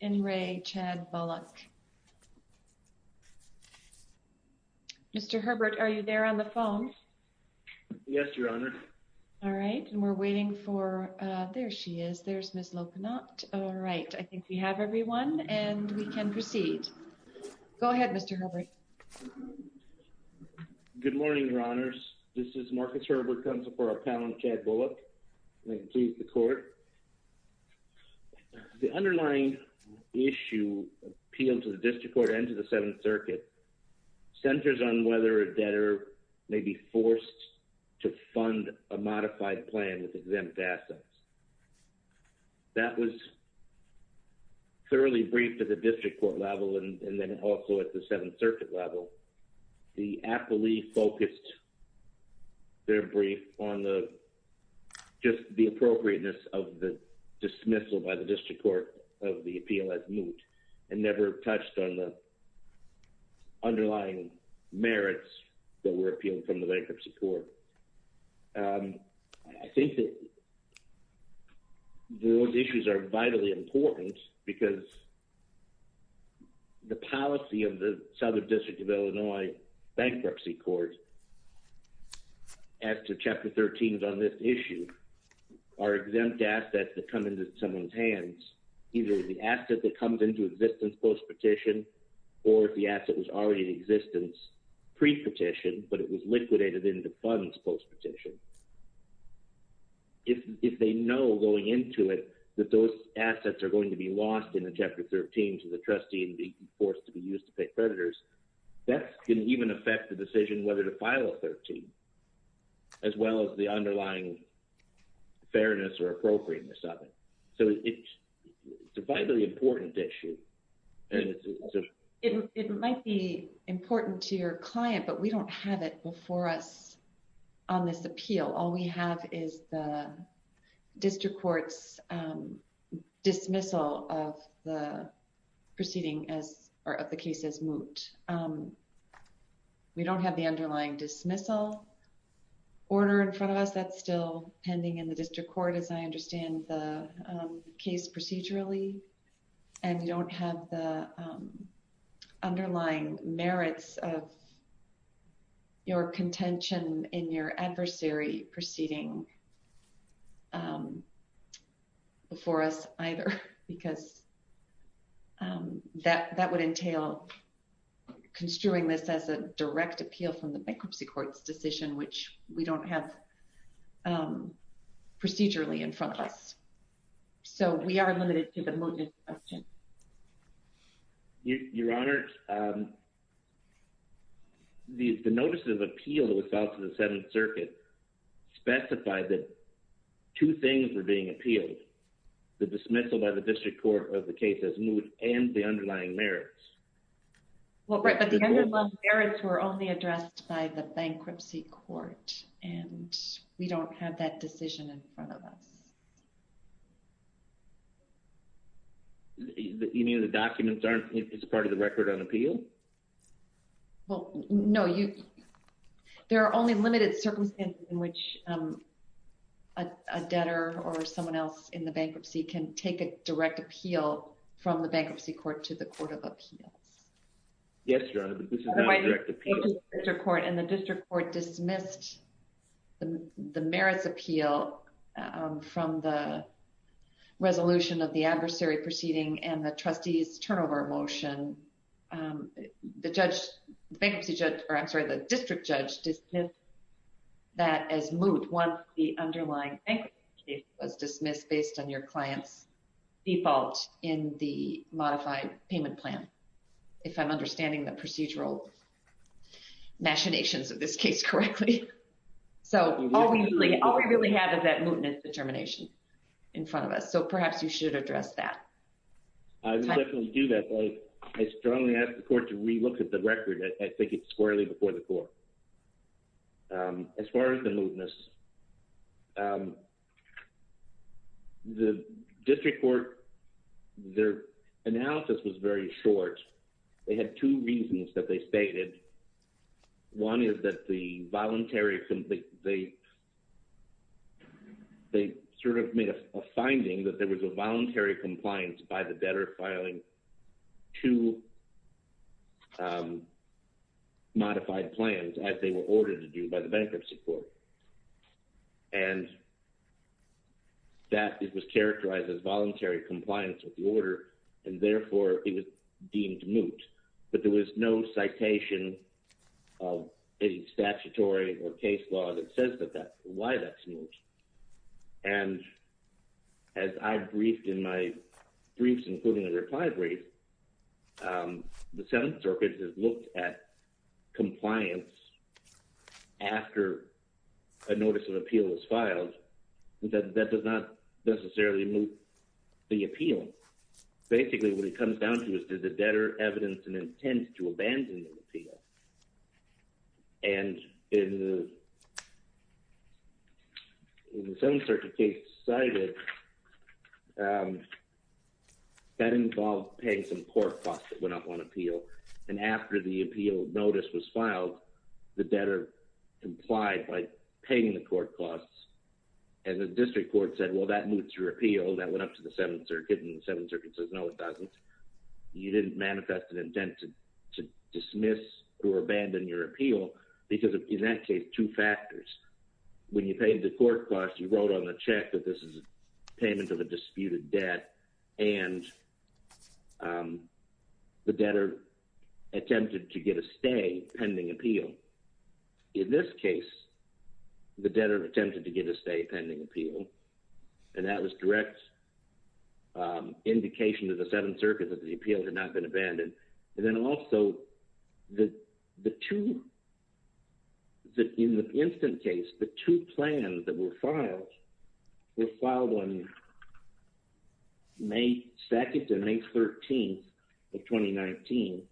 and Ray Chad Bullock. Mr. Herbert, are you there on the phone? Yes, Your Honor. All right, and we're waiting for, uh, there she is, there's Miss Lokanot. All right, I think we have everyone and we can proceed. Go ahead, Mr. Herbert. Good morning, Your Honors. This is Marcus Herbert, Counsel for Appellant Chad Bullock. May it please the Court. The underlying issue appealed to the District Court and to the Seventh Circuit centers on whether a debtor may be forced to fund a modified plan with exempt assets. That was thoroughly briefed at the District Court level and then also at the Seventh Circuit level. The appellee focused their brief on the just the appropriateness of the dismissal by the District Court of the appeal as moot and never touched on the underlying merits that were appealed from the bank of support. Um, I think that those issues are vitally important because the policy of the Southern District of Illinois Bankruptcy Court as to Chapter 13 on this issue are exempt assets that come into someone's hands, either the asset that comes into existence post-petition or if the asset was already in existence pre-petition, but it was liquidated into funds post-petition. If they know going into it that those assets are going to be lost in the Chapter 13 to the trustee and be forced to be used to pay creditors, that can even affect the decision whether to file a 13, as well as the underlying fairness or appropriateness of it. So it's a vitally important issue. And it might be important to your client, but we don't have it before us on this appeal. All we have is the District Court's dismissal of the proceeding as or of the case as moot. We don't have the underlying dismissal order in front of us. That's still pending in the District Court, as I understand the case procedurally. And we don't have the underlying merits of your contention in your adversary proceeding before us either, because that would entail construing this as a direct appeal from the Bankruptcy Court's decision, which we don't have procedurally in front of us. So we are limited to the mootness question. Your Honor, the notice of appeal that was filed to the Seventh Circuit specified that two things were being appealed, the dismissal by the District Court of the case as moot and the underlying merits. But the underlying merits were only addressed by the Bankruptcy Court, and we don't have that decision in front of us. You mean the documents aren't part of the record on appeal? Well, no. There are only limited circumstances in which a debtor or someone else in the bankruptcy can take a direct appeal from the Bankruptcy Court to the Court of Appeals. Yes, Your Honor, but this is not a direct appeal. The District Court dismissed the merits appeal from the resolution of the adversary proceeding and the trustee's turnover motion. The District Judge dismissed that as moot once the underlying was dismissed based on your client's default in the modified payment plan, if I'm understanding the procedural machinations of this case correctly. So all we really have is that mootness determination in front of us. So perhaps you should address that. I would definitely do that, but I strongly ask the Court to re-look at the record. I think it's squarely before the Court. As far as the mootness, the District Court, their analysis was very short. They had two reasons that they stated. One is that they sort of made a finding that there was a voluntary compliance by the debtor filing two modified plans as they were ordered to do by the Bankruptcy Court. And that it was characterized as voluntary compliance with the order, and therefore, it was deemed moot. But there was no citation of any statutory or case law that says that that's moot. And as I've briefed in my briefs, including a reply brief, the Seventh Circuit has looked at compliance after a notice of appeal is filed. That does not necessarily moot the appeal. Basically, what it comes down to is, did the debtor evidence an intent to abandon the appeal? And in the Seventh Circuit case cited, that involved paying some court costs that went up on appeal. And after the appeal notice was filed, the debtor complied by paying the court costs. And the District Court said, well, that moots your appeal. That went up to the Seventh Circuit. And the Seventh Circuit says, no, it doesn't. You didn't manifest an intent to dismiss or abandon your appeal. Because in that case, two factors. When you paid the court costs, you wrote on the check that this is payment of a disputed debt. And the debtor attempted to get a stay pending appeal. In this case, the debtor attempted to get a stay pending appeal. And that was direct indication to the Seventh Circuit that the appeal had not been abandoned. And then also, that in the instant case, the two plans that were filed were filed on May 2nd and May 13th of 2019.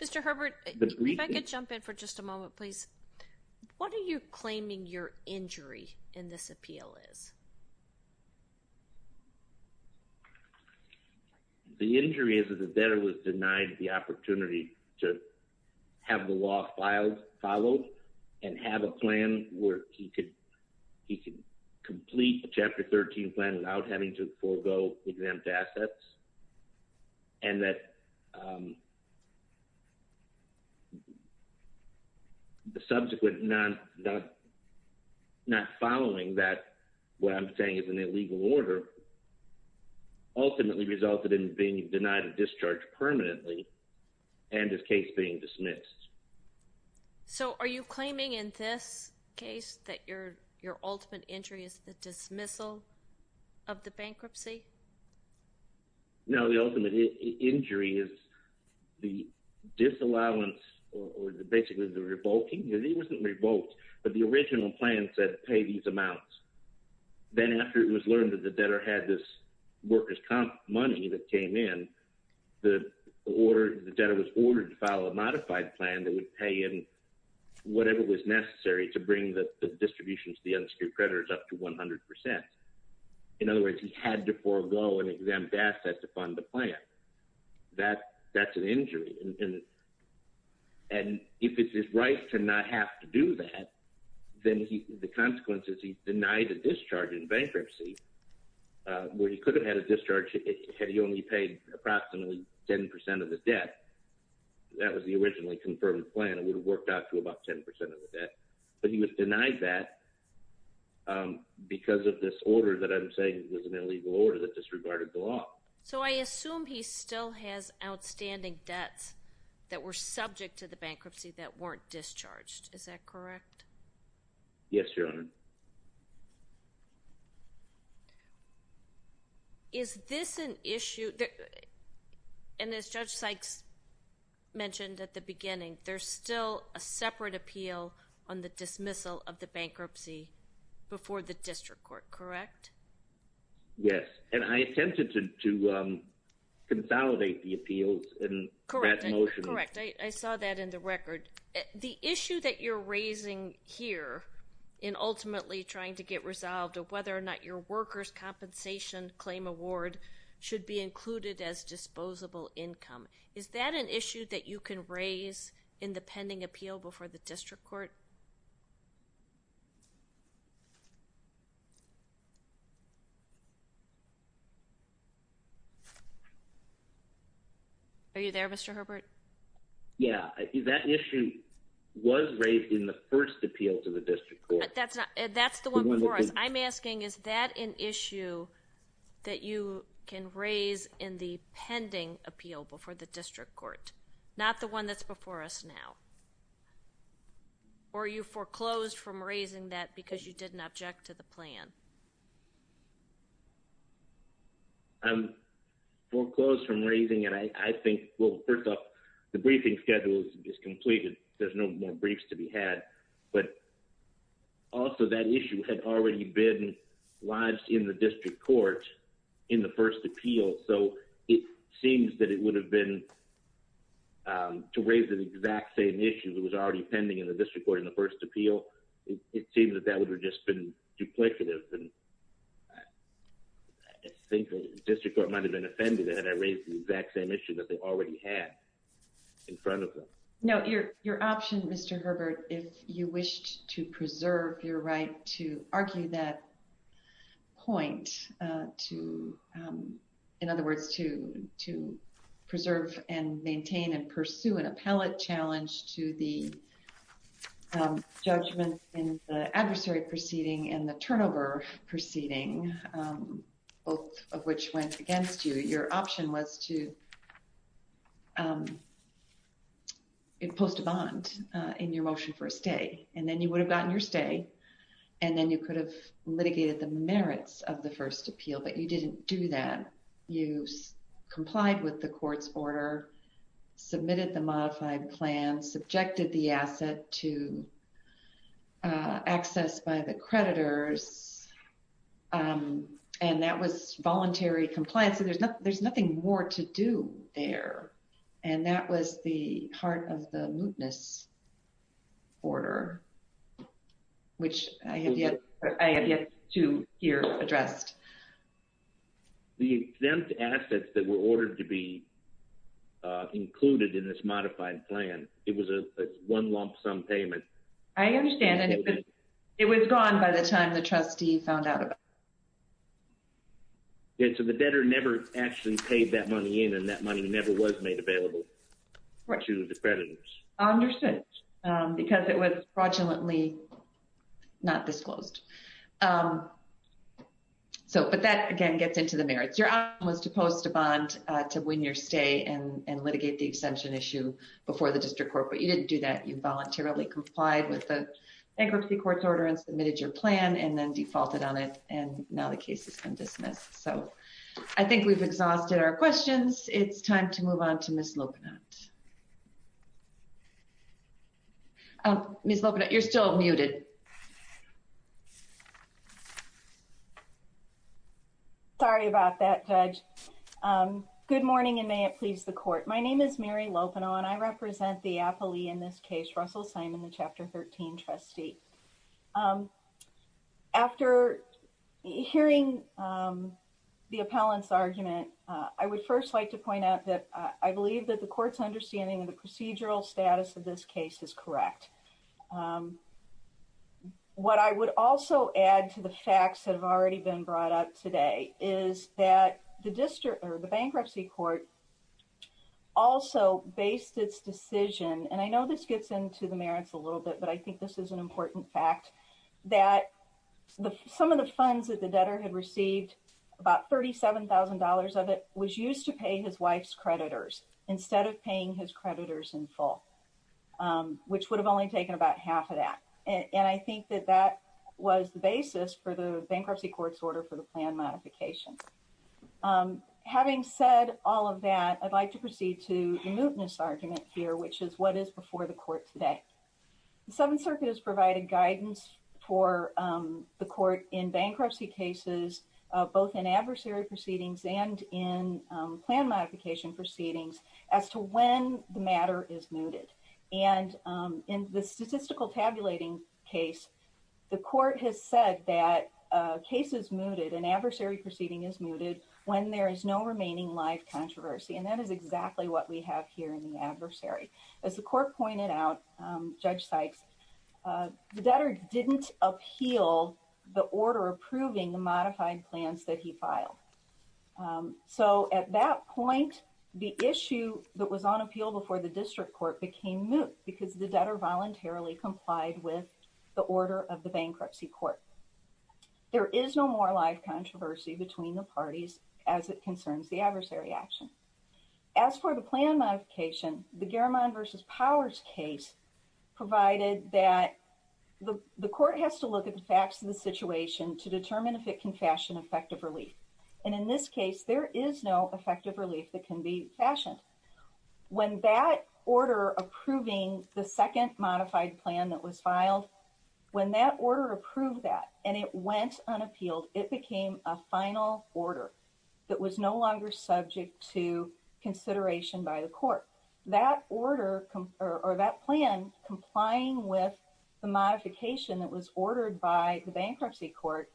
Mr. Herbert, if I could jump in for just a moment, please. What are you claiming your injury in this appeal is? The injury is that the debtor was denied the opportunity to have the law filed, followed, and have a plan where he could complete Chapter 13 plan without having to forego exempt assets. And that the subsequent not following that, what I'm saying is an illegal order, ultimately resulted in being denied a discharge permanently and his case being dismissed. So are you claiming in this case that your ultimate injury is the dismissal of the bankruptcy? No, the ultimate injury is the disallowance or basically the revoking. It wasn't revoked, but the original plan said pay these amounts. Then after it was learned that the debtor had this workers' comp money that came in, the debtor was ordered to file a modified plan that would pay in whatever was necessary to bring the distribution to the unsecured creditors up to 100%. In other words, he had to forego an exempt asset to fund the plan. That's an injury. And if it's his right to not have to do that, then the consequence is he's denied a discharge in bankruptcy where he could have had a discharge had he only paid approximately 10% of the debt. That was the originally confirmed plan. It would have worked out to about 10% of the debt, but he was denied that because of this order that I'm saying was an illegal order that were subject to the bankruptcy that weren't discharged. Is that correct? Yes, Your Honor. Is this an issue? And as Judge Sykes mentioned at the beginning, there's still a separate appeal on the dismissal of the bankruptcy before the district court, correct? Yes. And I attempted to consolidate the appeals in that motion. Correct. I saw that in the record. The issue that you're raising here in ultimately trying to get resolved of whether or not your workers' compensation claim award should be included as disposable income, is that an issue that you can raise in the pending appeal before the district court? Are you there, Mr. Herbert? Yeah. That issue was raised in the first appeal to the district court. That's the one before us. I'm asking, is that an issue that you can raise in the pending appeal before the district court, not the one that's before us now? Or are you foreclosed from raising that because you didn't object to the plan? I'm foreclosed from raising it. I think, well, first off, the briefing schedule is completed. There's no more briefs to be had. But also that issue had already been lodged in the district court in the first appeal. So it seems that it would have been, to raise the exact same issue that was already pending in the district court in the first appeal, it seems that that would have just been duplicative. And I think the district court might have been offended that I raised the exact same issue that they already had in front of them. No, your option, Mr. Herbert, if you were to, in other words, to preserve and maintain and pursue an appellate challenge to the judgment in the adversary proceeding and the turnover proceeding, both of which went against you, your option was to post a bond in your motion for a stay. And then you would have gotten your stay. And then you could have litigated the merits of the first appeal, but you didn't do that. You complied with the court's order, submitted the modified plan, subjected the asset to access by the creditors. And that was voluntary compliance. There's nothing more to do there. And that was the heart of the mootness order, which I have yet to hear addressed. The exempt assets that were ordered to be included in this modified plan, it was a one lump sum payment. I understand. And it was gone by the time the trustee found out about it. Yeah, so the debtor never actually paid that money in, and that money never was made available to the creditors. I understand, because it was fraudulently not disclosed. But that, again, gets into the merits. Your option was to post a bond to win your stay and litigate the exemption issue before the district court, but you didn't do that. You voluntarily complied with the bankruptcy court's order and submitted your plan and then defaulted on it, and now the case has been dismissed. So I think we've exhausted our questions. It's time to move on to Ms. Lopinot. Ms. Lopinot, you're still muted. Sorry about that, Judge. Good morning, and may it please the court. My name is Mary Lopinot, and I represent the appellee in this case, Russell Simon, the Chapter 13 trustee. After hearing the appellant's argument, I would first like to point out that I believe that the court's understanding of the procedural status of this case is correct. What I would also add to the facts that have already been brought up today is that the bankruptcy court also based its decision, and I know this gets into the merits a little bit, but I think this is an important fact, that some of the funds that the debtor had received, about $37,000 of it, was used to pay his wife's creditors instead of paying his creditors in full, which would have only taken about half of that. And I think that that was the basis for the bankruptcy court's order for the plan modification. Having said all of that, I'd like to proceed to the mootness argument here, which is what is before the court today. The Seventh Circuit has provided guidance for the court in bankruptcy cases, both in adversary proceedings and in plan modification proceedings, as to when the matter is mooted. And in the Seventh Circuit, it is said that a case is mooted, an adversary proceeding is mooted, when there is no remaining life controversy. And that is exactly what we have here in the adversary. As the court pointed out, Judge Sykes, the debtor didn't appeal the order approving the modified plans that he filed. So at that point, the issue that was on appeal before the district court became moot, because the debtor voluntarily complied with the order of the bankruptcy court. There is no more life controversy between the parties as it concerns the adversary action. As for the plan modification, the Garamond v. Powers case provided that the court has to look at the facts of the situation to determine if it can fashion effective relief. And in this case, there is no effective relief that can be fashioned. When that order approving the second modified plan that was filed, when that order approved that, and it went unappealed, it became a final order that was no longer subject to consideration by the court. That order or that plan complying with the modification that was ordered by the bankruptcy court,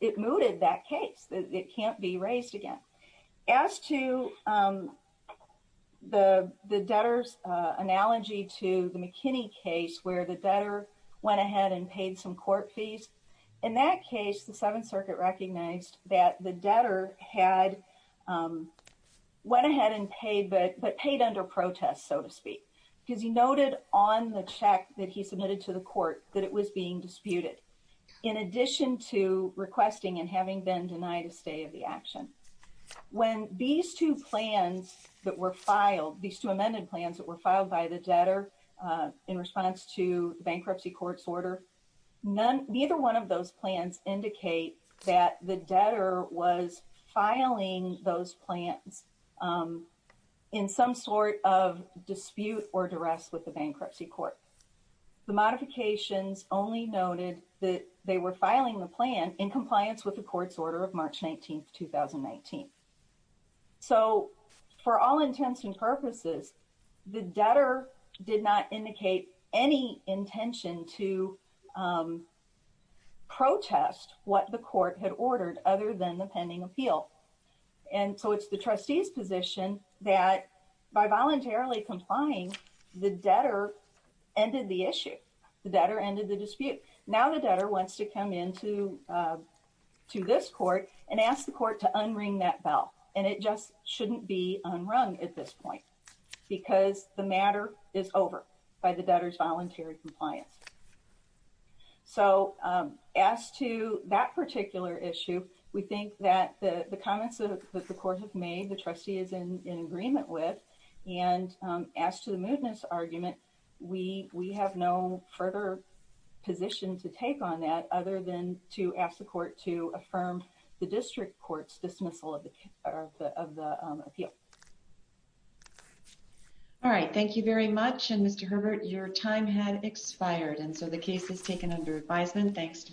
it mooted that case. It can't be raised again. As to the debtor's analogy to the McKinney case where the debtor went ahead and paid some court fees, in that case, the Seventh Circuit recognized that the debtor had went ahead and paid, but paid under protest, so to speak, because he noted on the check that it was being disputed, in addition to requesting and having been denied a stay of the action. When these two plans that were filed, these two amended plans that were filed by the debtor in response to the bankruptcy court's order, neither one of those plans indicate that the debtor was filing those plans in some sort of dispute or duress with the bankruptcy court. The modifications only noted that they were filing the plan in compliance with the court's order of March 19th, 2019. So, for all intents and purposes, the debtor did not indicate any intention to protest what the court had ordered other than the pending appeal. And so, it's the trustee's position that by voluntarily complying, the debtor ended the issue. The debtor ended the dispute. Now, the debtor wants to come into to this court and ask the court to unring that bell, and it just shouldn't be unrung at this point because the matter is over by the debtor's voluntary compliance. So, as to that particular issue, we think that the comments that the court has made, the trustee is in agreement with, and as to the mootness argument, we have no further position to take on that other than to ask the court to affirm the district court's dismissal of the appeal. All right, thank you very much. And Mr. Herbert, your time had expired, and so the case is taken under advisement. Thanks.